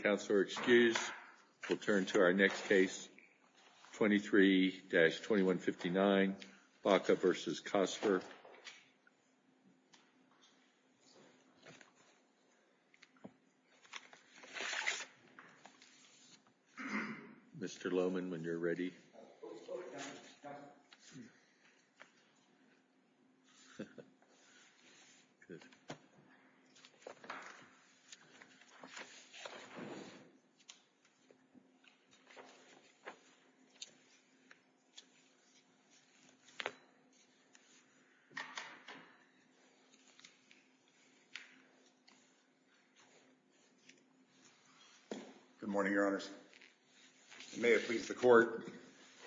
Counselor excused. We'll turn to our next case, 23-2159, Baca v. Cosper. Mr. Lohmann, when you're ready. Good morning, Your Honors. May it please the Court,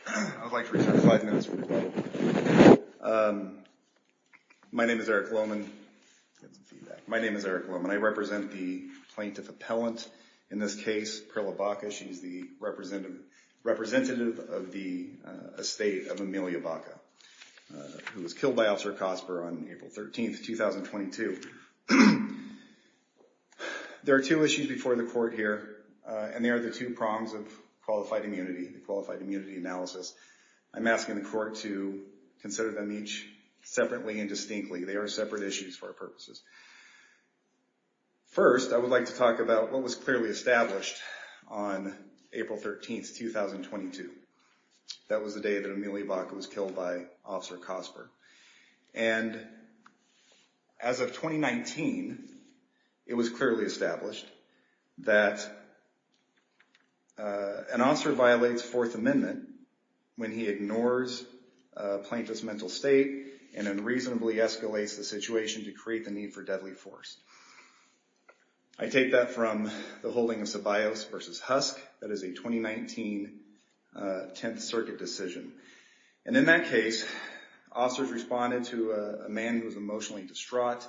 I'd like to return five minutes for the vote. My name is Eric Lohmann. I represent the plaintiff appellant in this case, Perla Baca. She's the representative of the estate of Amelia Baca, who was killed by Officer Cosper on April 13, 2022. There are two issues before the Court here, and they are the two prongs of qualified immunity, the qualified immunity analysis. I'm asking the Court to consider them each separately and distinctly. They are separate issues for our purposes. First, I would like to talk about what was clearly established on April 13, 2022. That was the day that Amelia Baca was killed by Officer Cosper. And as of 2019, it was clearly established that an officer violates Fourth Amendment when he ignores a plaintiff's mental state and unreasonably escalates the situation to create the need for deadly force. I take that from the holding of Ceballos v. Husk. That is a 2019 Tenth Circuit decision. And in that case, officers responded to a man who was emotionally distraught,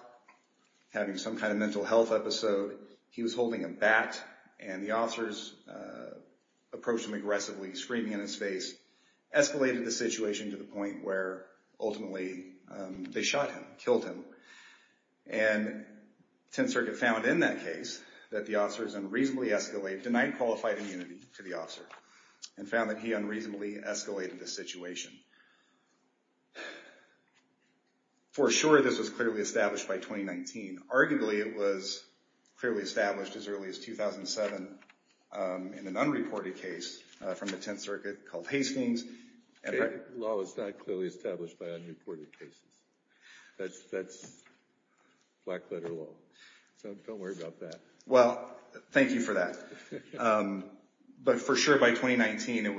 having some kind of mental health episode. He was holding a bat, and the officers approached him aggressively, screaming in his face, escalated the situation to the point where ultimately they shot him, killed him. And Tenth Circuit found in that case that the officers unreasonably escalated, denied qualified immunity to the officer, and found that he unreasonably escalated the situation. For sure, this was clearly established by 2019. Arguably, it was clearly established as early as 2007 in an unreported case from the Tenth Circuit called Hastings. Law is not clearly established by unreported cases. That's black-letter law. So don't worry about that. Well, thank you for that. But for sure, by 2019, it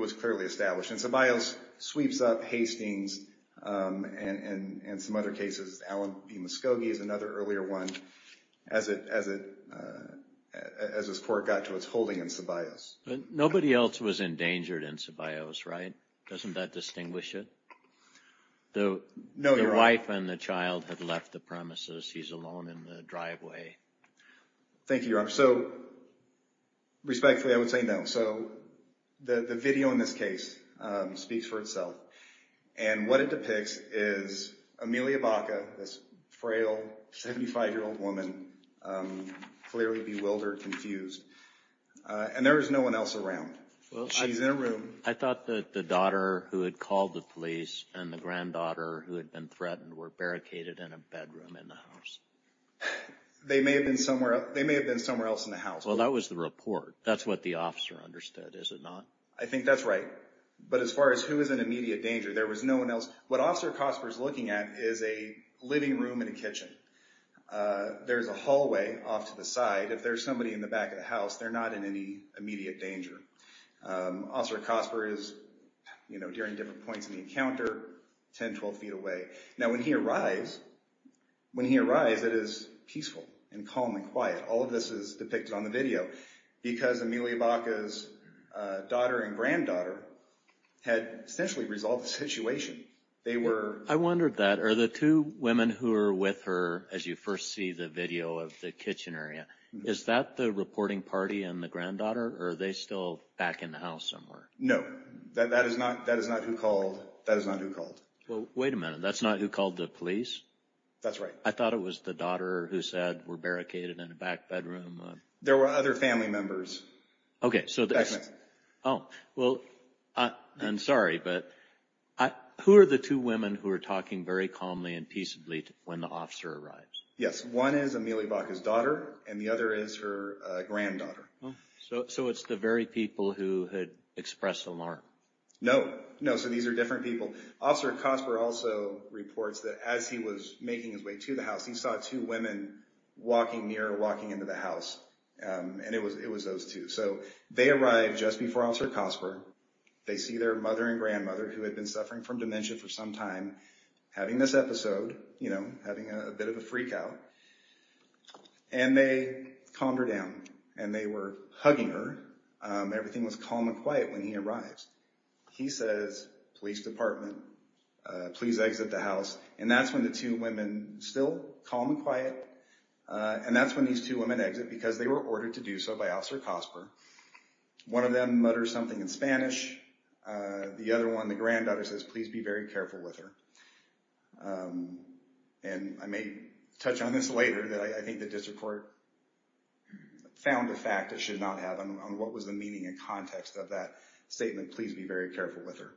was clearly established. And Ceballos sweeps up Hastings and some other cases. Allen v. Muscogee is another earlier one, as this court got to its holding in Ceballos. But nobody else was endangered in Ceballos, right? Doesn't that distinguish it? No, Your Honor. The wife and the child had left the premises. He's alone in the driveway. Thank you, Your Honor. So respectfully, I would say no. So the video in this case speaks for itself. And what it depicts is Amelia Baca, this frail 75-year-old woman, clearly bewildered, confused. And there is no one else around. She's in a room. I thought that the daughter who had called the police and the granddaughter who had been threatened were barricaded in a bedroom in the house. They may have been somewhere else in the house. Well, that was the report. That's what the officer understood, is it not? I think that's right. But as far as who is in immediate danger, there was no one else. What Officer Cosper is looking at is a living room and a kitchen. There's a hallway off to the side. If there's somebody in the back of the house, they're not in any immediate danger. Officer Cosper is, you know, during different points in the encounter, 10, 12 feet away. Now, when he arrives, when he arrives, it is peaceful and calm and quiet. All of this is depicted on the video because Amelia Baca's daughter and granddaughter had essentially resolved the situation. They were... I wondered that. Are the two women who were with her, as you first see the video of the kitchen area, is that the reporting party and the granddaughter? Or are they still back in the house somewhere? No. That is not who called. That is not who called. Well, wait a minute. That's not who called the police? That's right. I thought it was the daughter who said, we're barricaded in the back bedroom. There were other family members. Okay, so... Oh, well, I'm sorry, but who are the two women who are talking very calmly and peaceably when the officer arrives? Yes. One is Amelia Baca's daughter, and the other is her granddaughter. So it's the very people who had expressed alarm? No. No, so these are different people. Officer Cosper also reports that as he was making his way to the house, he saw two women walking near or walking into the house. And it was those two. So they arrived just before Officer Cosper. They see their mother and grandmother, who had been suffering from dementia for some time, having this episode, you know, having a bit of a freakout. And they calmed her down. And they were hugging her. Everything was calm and quiet when he arrived. He says, police department, please exit the house. And that's when the two women, still calm and quiet, and that's when these two women exit because they were ordered to do so by Officer Cosper. One of them mutters something in Spanish. The other one, the granddaughter, says, please be very careful with her. And I may touch on this later. I think the district court found the fact it should not have on what was the meaning and context of that statement. Please be very careful with her.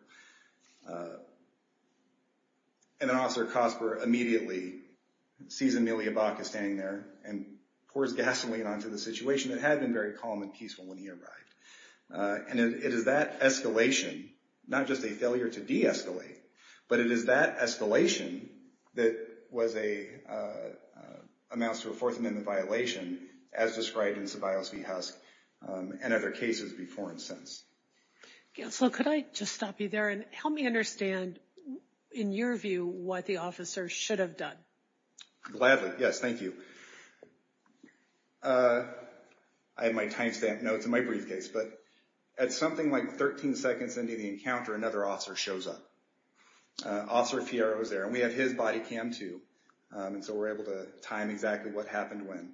And then Officer Cosper immediately sees Amelia Bachus standing there and pours gasoline onto the situation. It had been very calm and peaceful when he arrived. And it is that escalation, not just a failure to de-escalate, but it is that escalation that was a, amounts to a fourth amendment violation, as described in Ceballos v. Husk and other cases before and since. Counselor, could I just stop you there and help me understand, in your view, what the officer should have done? Gladly, yes, thank you. I have my timestamp notes in my briefcase. But at something like 13 seconds into the encounter, another officer shows up. Officer Fierro was there, and we had his body cam, too. And so we're able to time exactly what happened when.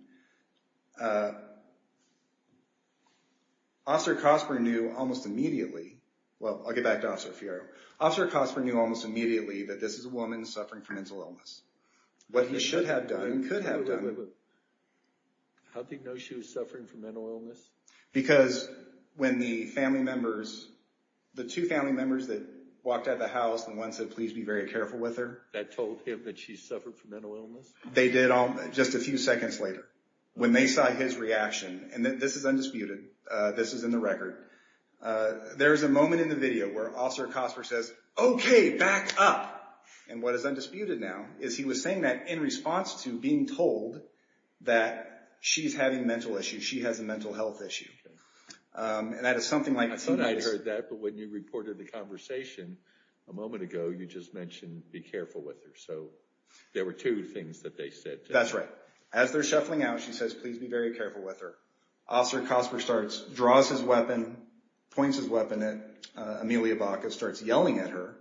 Officer Cosper knew almost immediately, well, I'll get back to Officer Fierro. Officer Cosper knew almost immediately that this is a woman suffering from mental illness. What he should have done and could have done. How did he know she was suffering from mental illness? Because when the family members, the two family members that walked out of the house and one said, please be very careful with her. That told him that she suffered from mental illness? They did all, just a few seconds later. When they saw his reaction, and this is undisputed, this is in the record. There is a moment in the video where Officer Cosper says, okay, back up. And what is undisputed now is he was saying that in response to being told that she's having a mental issue, she has a mental health issue. And that is something like. I thought I heard that, but when you reported the conversation a moment ago, you just mentioned be careful with her. So there were two things that they said. That's right. As they're shuffling out, she says, please be very careful with her. Officer Cosper starts, draws his weapon, points his weapon at Amelia Baca, starts yelling at her.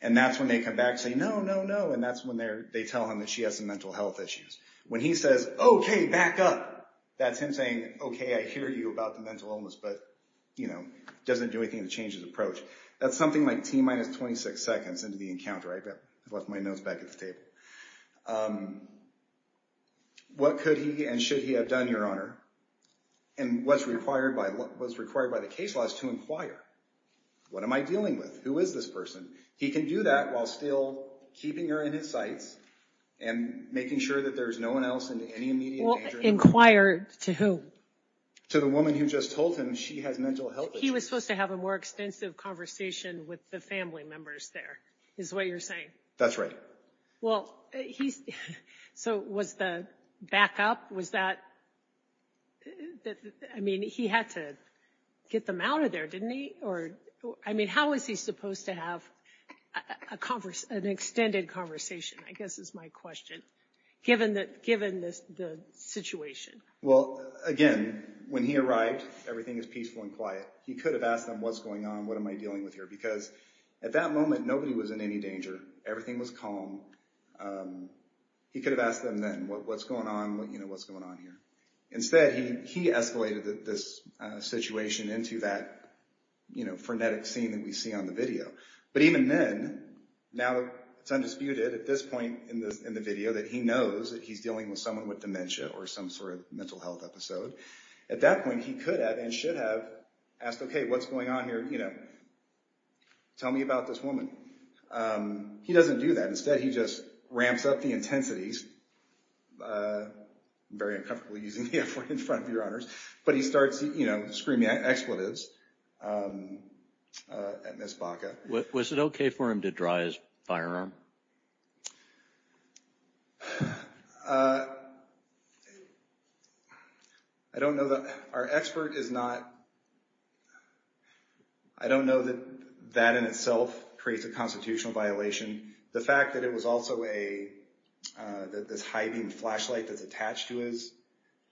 And that's when they come back and say, no, no, no. And that's when they tell him that she has some mental health issues. When he says, okay, back up, that's him saying, okay, I hear you about the mental illness, but doesn't do anything to change his approach. That's something like T minus 26 seconds into the encounter. I left my notes back at the table. What could he and should he have done, Your Honor? And what's required by the case laws to inquire? What am I dealing with? Who is this person? He can do that while still keeping her in his sights and making sure that there's no one else in any immediate danger. Inquire to who? To the woman who just told him she has mental health issues. He was supposed to have a more extensive conversation with the family members there, is what you're saying? That's right. Well, so was the back up, was that, I mean, he had to get them out of there, didn't he? Or, I mean, how is he supposed to have an extended conversation, I guess is my question, given the situation? Well, again, when he arrived, everything was peaceful and quiet. He could have asked them, what's going on? What am I dealing with here? Because at that moment, nobody was in any danger. Everything was calm. He could have asked them then, what's going on? What's going on here? Instead, he escalated this situation into that frenetic scene that we see on the video. But even then, now it's undisputed at this point in the video that he knows that he's dealing with someone with dementia or some sort of mental health episode. At that point, he could have and should have asked, okay, what's going on here? Tell me about this woman. He doesn't do that. Instead, he just ramps up the intensities. I'm very uncomfortable using the F word in front of your honors. But he starts screaming expletives at Ms. Baca. Was it okay for him to draw his firearm? I don't know. Our expert is not – I don't know that that in itself creates a constitutional violation. The fact that it was also a – that this high-beam flashlight that's attached to his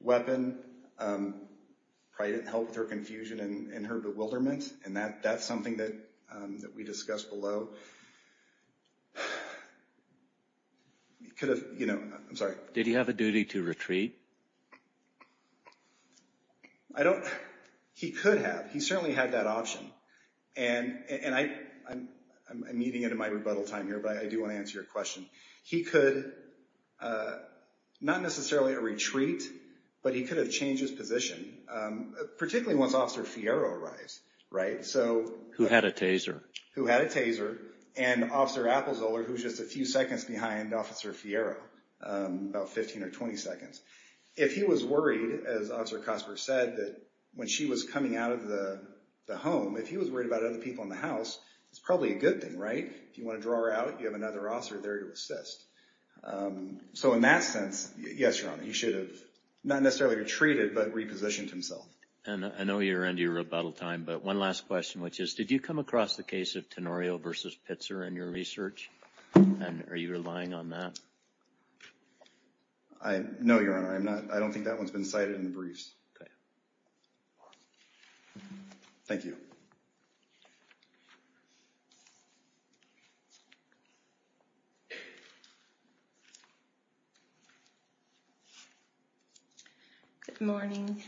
weapon probably didn't help with her confusion and her bewilderment. And that's something that we discussed below. I'm sorry. Did he have a duty to retreat? I don't – he could have. He certainly had that option. And I'm meeting into my rebuttal time here, but I do want to answer your question. He could – not necessarily a retreat, but he could have changed his position, particularly once Officer Fiero arrives, right? Who had a taser. Who had a taser. And Officer Appelzoller, who's just a few seconds behind Officer Fiero, about 15 or 20 seconds. If he was worried, as Officer Cosper said, that when she was coming out of the home, if he was worried about other people in the house, it's probably a good thing, right? If you want to draw her out, you have another officer there to assist. So in that sense, yes, Your Honor, he should have not necessarily retreated, but repositioned himself. And I know you're into your rebuttal time, but one last question, which is did you come across the case of Tenorio versus Pitzer in your research? And are you relying on that? No, Your Honor, I don't think that one's been cited in the briefs. Okay. Thank you. Good morning.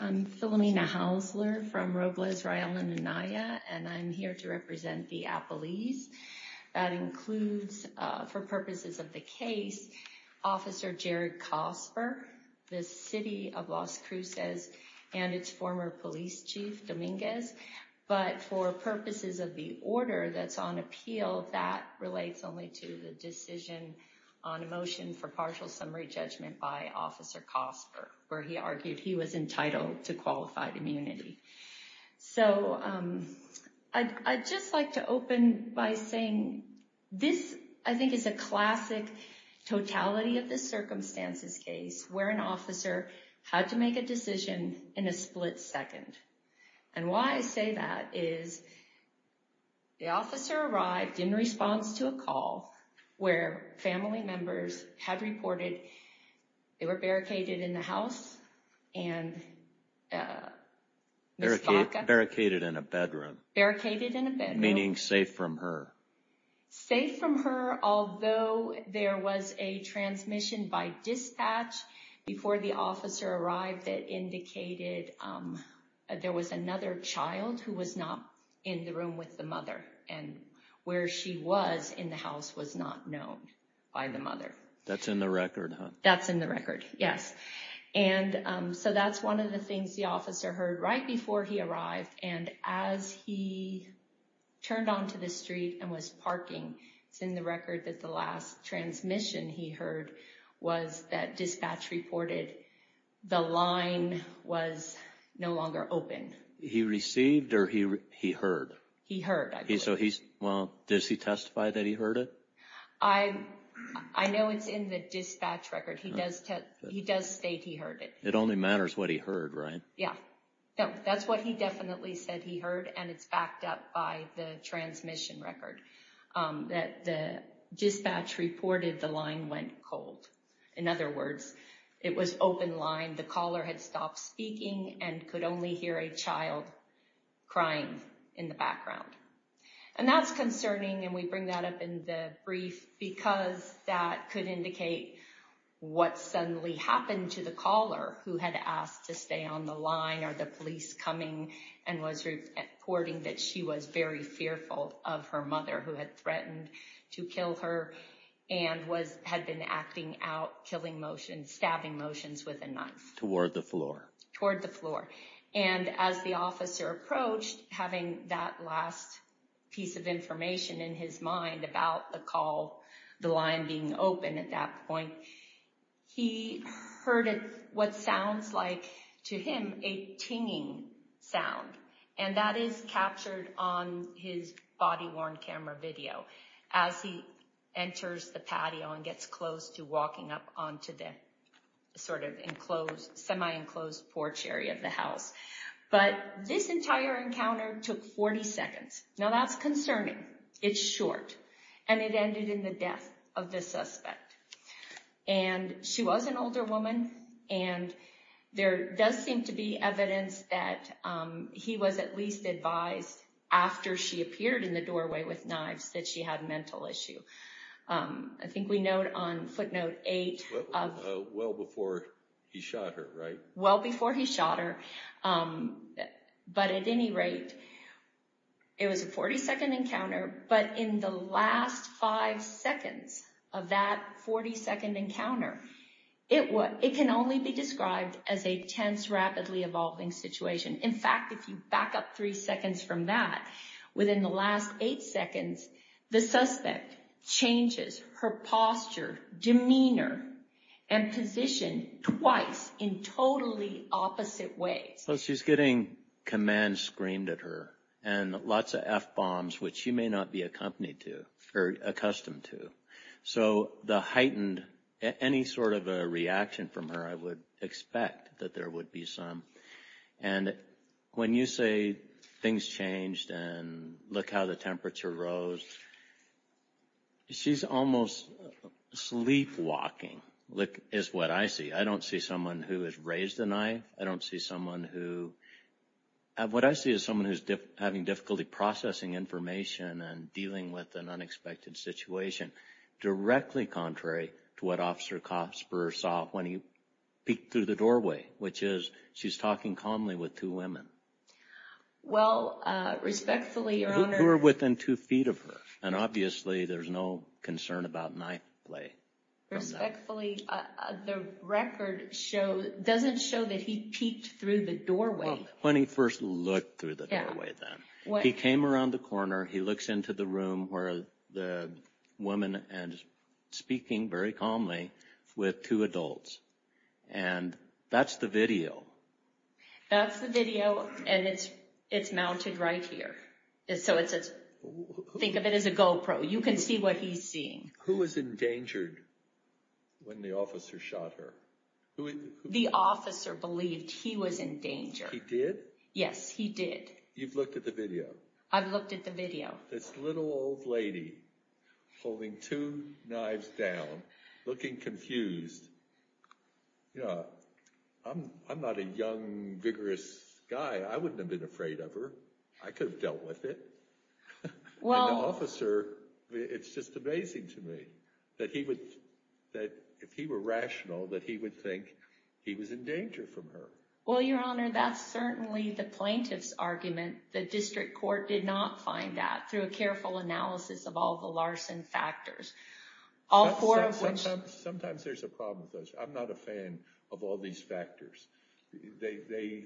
I'm Philomena Hausler from Robles, Rylan, and Anaya, and I'm here to represent the appellees. That includes, for purposes of the case, Officer Jared Cosper, the city of Las Cruces, and its former police chief, Dominguez. But for purposes of the order that's on appeal, that relates only to the decision on a motion for partial summary judgment by Officer Cosper, where he argued he was entitled to qualified immunity. So I'd just like to open by saying this, I think, is a classic totality of the circumstances case where an officer had to make a decision in a split second. And why I say that is the officer arrived in response to a call where family members had reported they were barricaded in the house, and... Barricaded in a bedroom. Barricaded in a bedroom. Meaning safe from her. Safe from her, although there was a transmission by dispatch before the officer arrived that indicated there was another child who was not in the room with the mother. And where she was in the house was not known by the mother. That's in the record, huh? That's in the record, yes. And so that's one of the things the officer heard right before he arrived, and as he turned onto the street and was parking, it's in the record that the last transmission he heard was that dispatch reported the line was no longer open. He received or he heard? He heard, I believe. So he, well, does he testify that he heard it? I know it's in the dispatch record. He does state he heard it. It only matters what he heard, right? Yeah. No, that's what he definitely said he heard, and it's backed up by the transmission record that the dispatch reported the line went cold. In other words, it was open line. The caller had stopped speaking and could only hear a child crying in the background. And that's concerning, and we bring that up in the brief because that could indicate what suddenly happened to the caller who had asked to stay on the line or the police coming and was reporting that she was very fearful of her mother who had threatened to kill her and had been acting out killing motions, stabbing motions with a knife. Toward the floor. Toward the floor. And as the officer approached, having that last piece of information in his mind about the call, the line being open at that point, he heard what sounds like to him a tinging sound. And that is captured on his body-worn camera video as he enters the patio and gets close to walking up onto the sort of enclosed, semi-enclosed porch area of the house. But this entire encounter took 40 seconds. Now, that's concerning. It's short. And it ended in the death of the suspect. And she was an older woman, and there does seem to be evidence that he was at least advised after she appeared in the doorway with knives that she had a mental issue. I think we note on footnote 8 of… Well before he shot her, right? Well before he shot her. But at any rate, it was a 40-second encounter. But in the last five seconds of that 40-second encounter, it can only be described as a tense, rapidly evolving situation. In fact, if you back up three seconds from that, within the last eight seconds, the suspect changes her posture, demeanor, and position twice in totally opposite ways. So she's getting commands screamed at her and lots of F-bombs, which she may not be accompanied to or accustomed to. So the heightened… any sort of a reaction from her, I would expect that there would be some. And when you say things changed and look how the temperature rose, she's almost sleepwalking is what I see. I don't see someone who has raised the knife. I don't see someone who… What I see is someone who's having difficulty processing information and dealing with an unexpected situation, directly contrary to what Officer Kasper saw when he peeked through the doorway, which is she's talking calmly with two women. Well, respectfully, Your Honor… Who are within two feet of her. And obviously, there's no concern about knife play. Respectfully, the record doesn't show that he peeked through the doorway. When he first looked through the doorway then. He came around the corner. He looks into the room where the woman is speaking very calmly with two adults. And that's the video. That's the video, and it's mounted right here. So think of it as a GoPro. You can see what he's seeing. Who was endangered when the officer shot her? The officer believed he was in danger. He did? Yes, he did. You've looked at the video? I've looked at the video. This little old lady holding two knives down, looking confused. You know, I'm not a young, vigorous guy. I wouldn't have been afraid of her. I could have dealt with it. Well… And the officer, it's just amazing to me that if he were rational, that he would think he was in danger from her. Well, Your Honor, that's certainly the plaintiff's argument. The district court did not find that through a careful analysis of all the Larson factors. Sometimes there's a problem with those. I'm not a fan of all these factors. They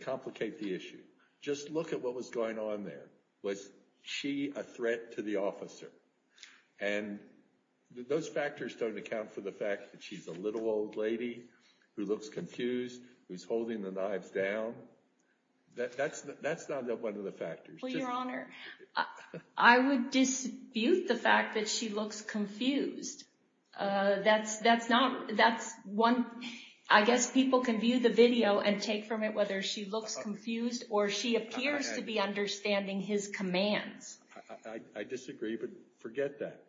complicate the issue. Just look at what was going on there. Was she a threat to the officer? And those factors don't account for the fact that she's a little old lady who looks confused, who's holding the knives down. That's not one of the factors. Well, Your Honor, I would dispute the fact that she looks confused. That's one… I guess people can view the video and take from it whether she looks confused or she appears to be understanding his commands. I disagree, but forget that.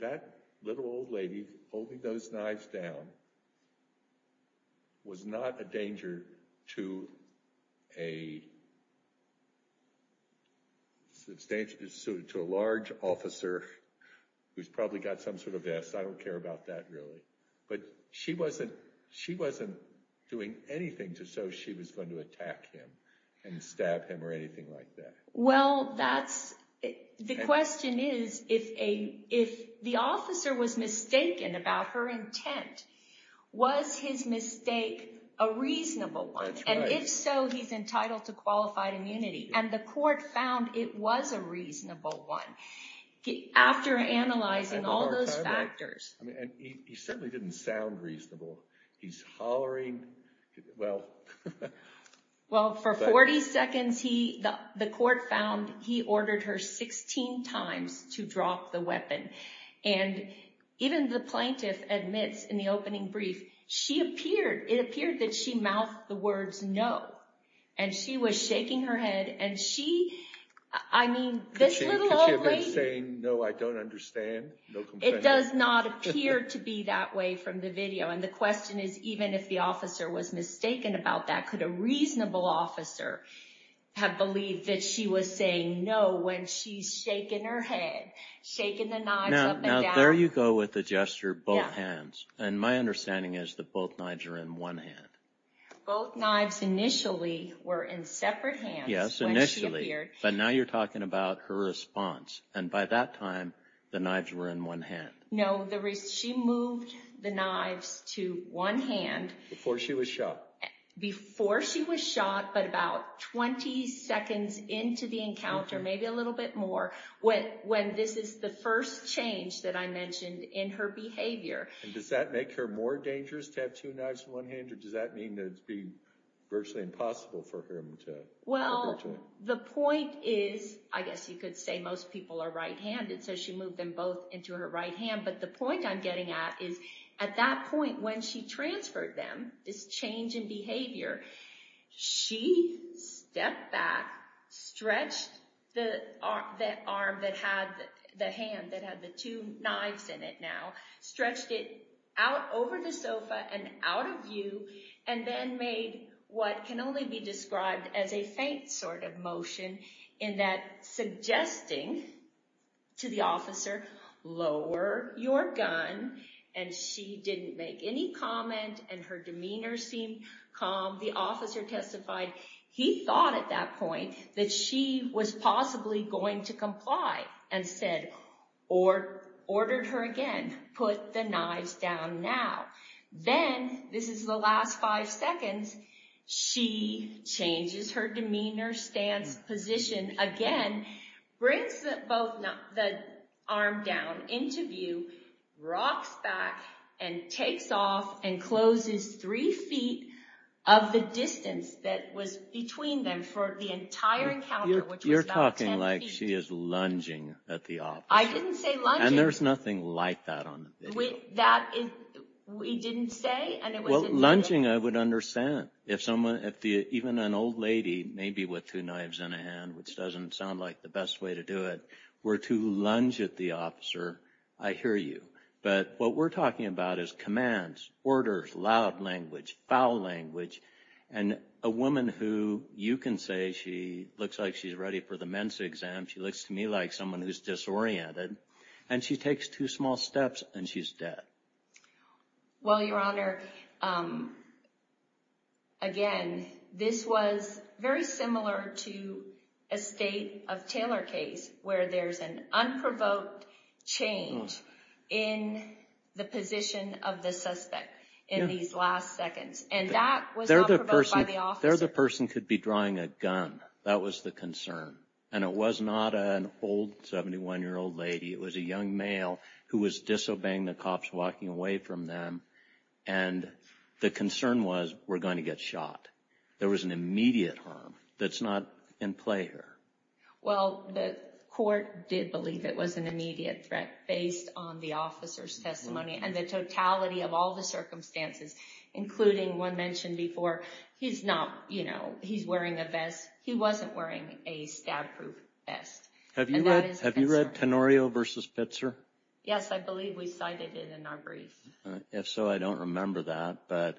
That little old lady holding those knives down was not a danger to a large officer who's probably got some sort of S. I don't care about that, really. But she wasn't doing anything so she was going to attack him and stab him or anything like that. Well, the question is, if the officer was mistaken about her intent, was his mistake a reasonable one? And if so, he's entitled to qualified immunity. And the court found it was a reasonable one. After analyzing all those factors… He certainly didn't sound reasonable. He's hollering… Well, for 40 seconds, the court found he ordered her 16 times to drop the weapon. And even the plaintiff admits in the opening brief, it appeared that she mouthed the words, no. And she was shaking her head and she… Could she have been saying, no, I don't understand? It does not appear to be that way from the video. And the question is, even if the officer was mistaken about that, could a reasonable officer have believed that she was saying no when she's shaking her head, shaking the knives up and down? Now, there you go with the gesture, both hands. And my understanding is that both knives are in one hand. Both knives initially were in separate hands when she appeared. Yes, initially. But now you're talking about her response. And by that time, the knives were in one hand. No, she moved the knives to one hand. Before she was shot. Before she was shot, but about 20 seconds into the encounter, maybe a little bit more, when this is the first change that I mentioned in her behavior. And does that make her more dangerous to have two knives in one hand? Or does that mean that it would be virtually impossible for her to… Well, the point is, I guess you could say most people are right-handed, so she moved them both into her right hand. But the point I'm getting at is at that point when she transferred them, this change in behavior, she stepped back, stretched the arm that had the hand that had the two knives in it now, stretched it out over the sofa and out of view, and then made what can only be described as a faint sort of motion in that suggesting to the officer, lower your gun. And she didn't make any comment, and her demeanor seemed calm. The officer testified he thought at that point that she was possibly going to comply and said, or ordered her again, put the knives down now. Then, this is the last five seconds, she changes her demeanor, stance, position again, brings both the arm down into view, rocks back and takes off and closes three feet of the distance that was between them for the entire encounter, which was about ten feet. You're talking like she is lunging at the officer. I didn't say lunging. And there's nothing like that on the video. We didn't say? Well, lunging I would understand. If even an old lady, maybe with two knives in a hand, which doesn't sound like the best way to do it, were to lunge at the officer, I hear you. But what we're talking about is commands, orders, loud language, foul language. And a woman who you can say she looks like she's ready for the Mensa exam, she looks to me like someone who's disoriented, and she takes two small steps and she's dead. Well, Your Honor, again, this was very similar to a state of Taylor case where there's an unprovoked change in the position of the suspect in these last seconds. And that was not provoked by the officer. There the person could be drawing a gun. That was the concern. And it was not an old 71-year-old lady. It was a young male who was disobeying the cops walking away from them. And the concern was, we're going to get shot. There was an immediate harm that's not in play here. Well, the court did believe it was an immediate threat based on the officer's testimony. And the totality of all the circumstances, including one mentioned before, he's not, you know, he's wearing a vest. He wasn't wearing a stab-proof vest. Have you read Tenorio v. Pitzer? Yes, I believe we cited it in our brief. If so, I don't remember that. But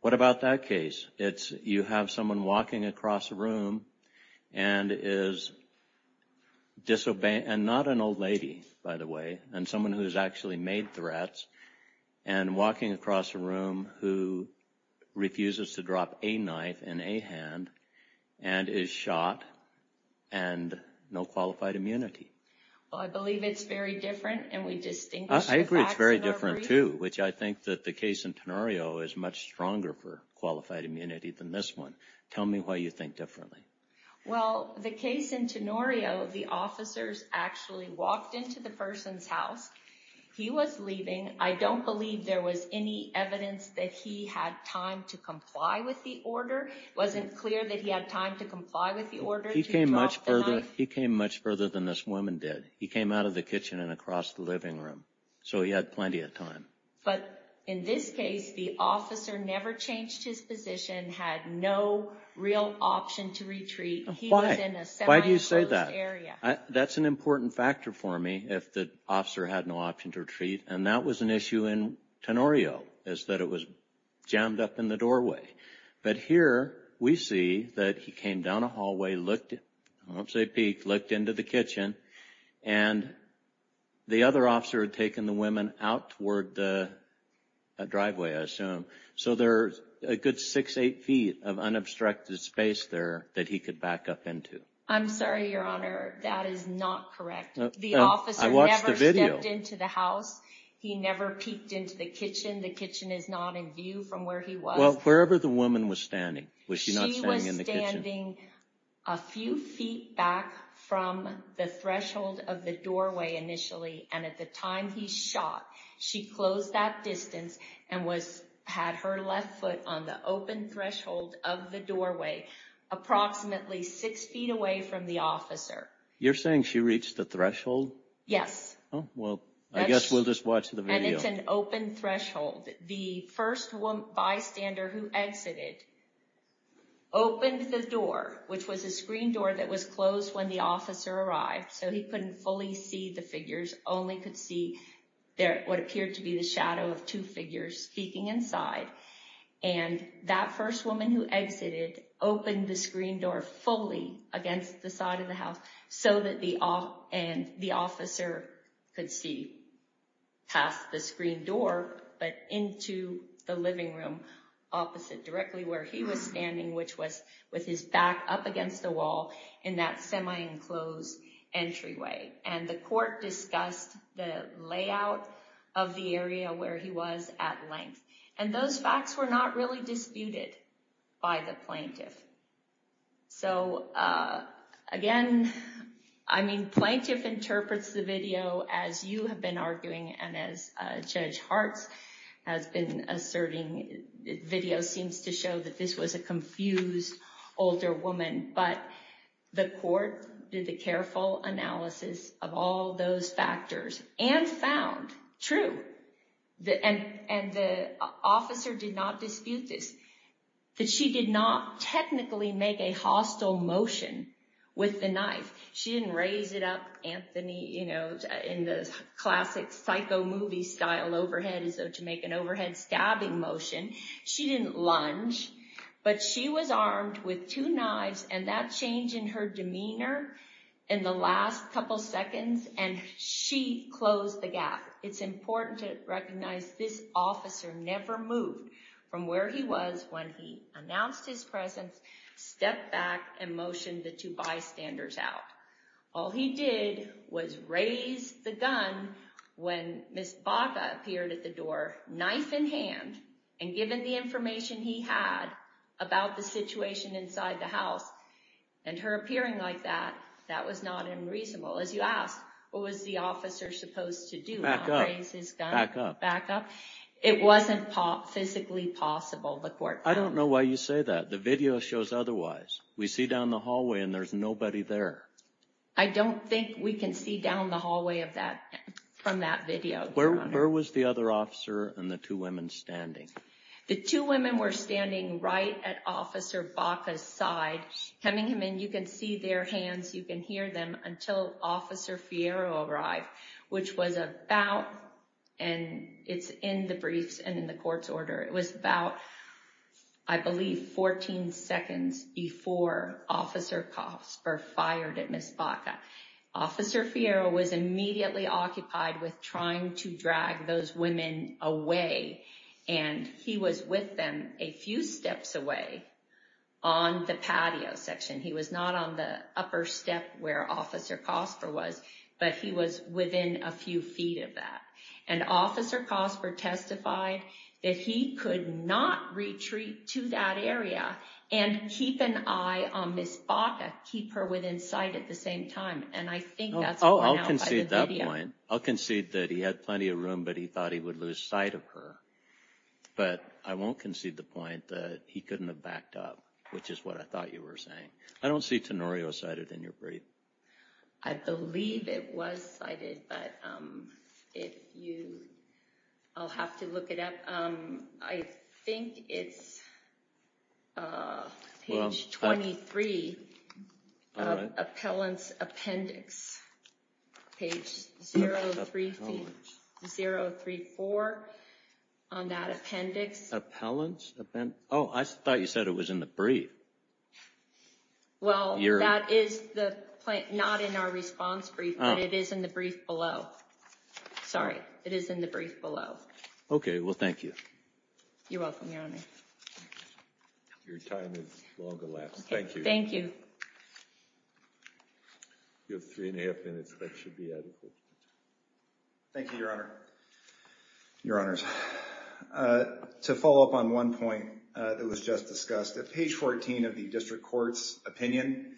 what about that case? It's you have someone walking across a room and is disobeying, and not an old lady, by the way, and someone who's actually made threats, and walking across a room who refuses to drop a knife in a hand and is shot and no qualified immunity. Well, I believe it's very different, and we distinguish the facts of our brief. Which I think that the case in Tenorio is much stronger for qualified immunity than this one. Tell me why you think differently. Well, the case in Tenorio, the officers actually walked into the person's house. He was leaving. I don't believe there was any evidence that he had time to comply with the order. It wasn't clear that he had time to comply with the order to drop the knife. He came much further than this woman did. He came out of the kitchen and across the living room. So he had plenty of time. But in this case, the officer never changed his position, had no real option to retreat. He was in a semi-closed area. Why do you say that? That's an important factor for me, if the officer had no option to retreat. And that was an issue in Tenorio, is that it was jammed up in the doorway. But here, we see that he came down a hallway, looked, I won't say peeked, looked into the kitchen. And the other officer had taken the woman out toward the driveway, I assume. So there's a good six, eight feet of unobstructed space there that he could back up into. I'm sorry, Your Honor, that is not correct. The officer never stepped into the house. He never peeked into the kitchen. The kitchen is not in view from where he was. Well, wherever the woman was standing. Was she not standing in the kitchen? She was standing a few feet back from the threshold of the doorway initially. And at the time he shot, she closed that distance and had her left foot on the open threshold of the doorway, approximately six feet away from the officer. You're saying she reached the threshold? Yes. Well, I guess we'll just watch the video. And it's an open threshold. The first bystander who exited opened the door, which was a screen door that was closed when the officer arrived. So he couldn't fully see the figures, only could see what appeared to be the shadow of two figures peeking inside. And that first woman who exited opened the screen door fully against the side of the house so that the officer could see past the screen door. But into the living room opposite directly where he was standing, which was with his back up against the wall in that semi-enclosed entryway. And the court discussed the layout of the area where he was at length. And those facts were not really disputed by the plaintiff. So, again, I mean, plaintiff interprets the video as you have been arguing and as Judge Hartz has been asserting. Video seems to show that this was a confused older woman. But the court did the careful analysis of all those factors and found, true, and the officer did not dispute this, that she did not technically make a hostile motion with the knife. She didn't raise it up, Anthony, you know, in the classic psycho movie style overhead as though to make an overhead stabbing motion. She didn't lunge, but she was armed with two knives. And that change in her demeanor in the last couple of seconds and she closed the gap. It's important to recognize this officer never moved from where he was when he announced his presence, stepped back, and motioned the two bystanders out. All he did was raise the gun when Ms. Baca appeared at the door, knife in hand, and given the information he had about the situation inside the house. And her appearing like that, that was not unreasonable. As you asked, what was the officer supposed to do? Back up, back up. It wasn't physically possible, the court found. I don't know why you say that. The video shows otherwise. We see down the hallway and there's nobody there. I don't think we can see down the hallway from that video. Where was the other officer and the two women standing? The two women were standing right at Officer Baca's side. Coming in, you can see their hands. You can hear them until Officer Fierro arrived, which was about, and it's in the briefs and in the court's order. It was about, I believe, 14 seconds before Officer Kasper fired at Ms. Baca. Officer Fierro was immediately occupied with trying to drag those women away. And he was with them a few steps away on the patio section. He was not on the upper step where Officer Kasper was, but he was within a few feet of that. And Officer Kasper testified that he could not retreat to that area and keep an eye on Ms. Baca, keep her within sight at the same time. And I think that's what went out by the video. I'll concede that point. I'll concede that he had plenty of room, but he thought he would lose sight of her. But I won't concede the point that he couldn't have backed up, which is what I thought you were saying. I don't see Tenorio cited in your brief. I believe it was cited, but I'll have to look it up. I think it's page 23 of appellant's appendix, page 034 on that appendix. Appellant's appendix? Oh, I thought you said it was in the brief. Well, that is not in our response brief, but it is in the brief below. Sorry. It is in the brief below. Okay. Well, thank you. You're welcome, Your Honor. Your time is long elapsed. Thank you. Thank you. You have three and a half minutes. That should be adequate. Thank you, Your Honor. Your Honors, to follow up on one point that was just discussed, at page 14 of the district court's opinion,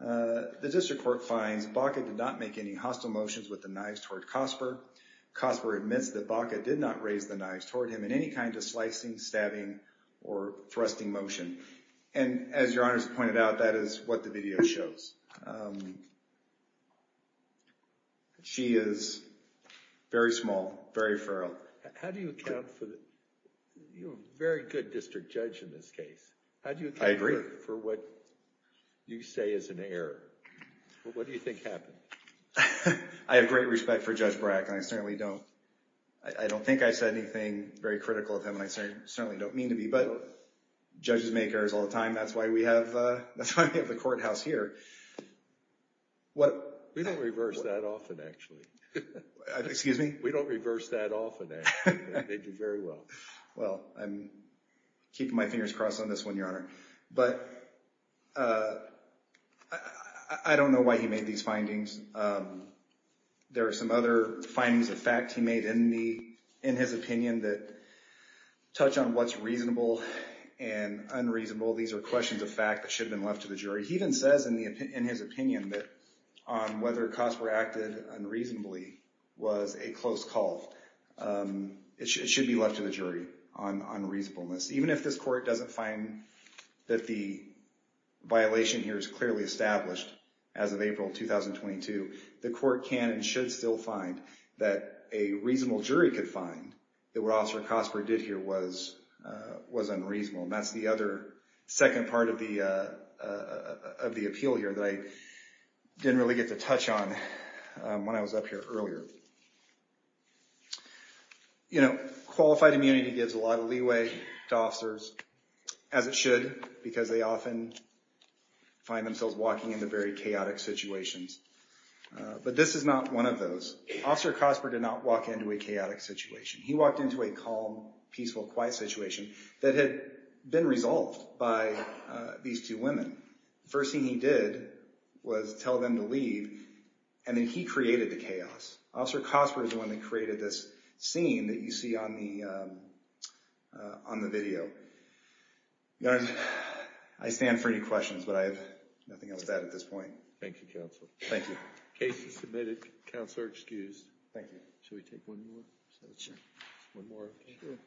the district court finds Baca did not make any hostile motions with the knives toward Cosper. Cosper admits that Baca did not raise the knives toward him in any kind of slicing, stabbing, or thrusting motion. And as Your Honors pointed out, that is what the video shows. She is very small, very feral. How do you account for the – you're a very good district judge in this case. I agree. How do you account for what you say is an error? What do you think happened? I have great respect for Judge Brack, and I certainly don't – I don't think I said anything very critical of him, and I certainly don't mean to be. But judges make errors all the time. That's why we have the courthouse here. We don't reverse that often, actually. Excuse me? We don't reverse that often, actually. They do very well. Well, I'm keeping my fingers crossed on this one, Your Honor. But I don't know why he made these findings. There are some other findings of fact he made in his opinion that touch on what's reasonable and unreasonable. These are questions of fact that should have been left to the jury. He even says in his opinion that on whether Cosper acted unreasonably was a close call. It should be left to the jury on reasonableness. Even if this court doesn't find that the violation here is clearly established as of April 2022, the court can and should still find that a reasonable jury could find that what Officer Cosper did here was unreasonable. And that's the other second part of the appeal here that I didn't really get to touch on when I was up here earlier. You know, qualified immunity gives a lot of leeway to officers, as it should, because they often find themselves walking into very chaotic situations. But this is not one of those. Officer Cosper did not walk into a chaotic situation. He walked into a calm, peaceful, quiet situation that had been resolved by these two women. The first thing he did was tell them to leave, and then he created the chaos. Officer Cosper is the one that created this scene that you see on the video. Your Honor, I stand for any questions, but I have nothing else to add at this point. Thank you, Counselor. Thank you. The case is submitted. Counselor excused. Thank you. Should we take one more? Sure. One more. Thank you.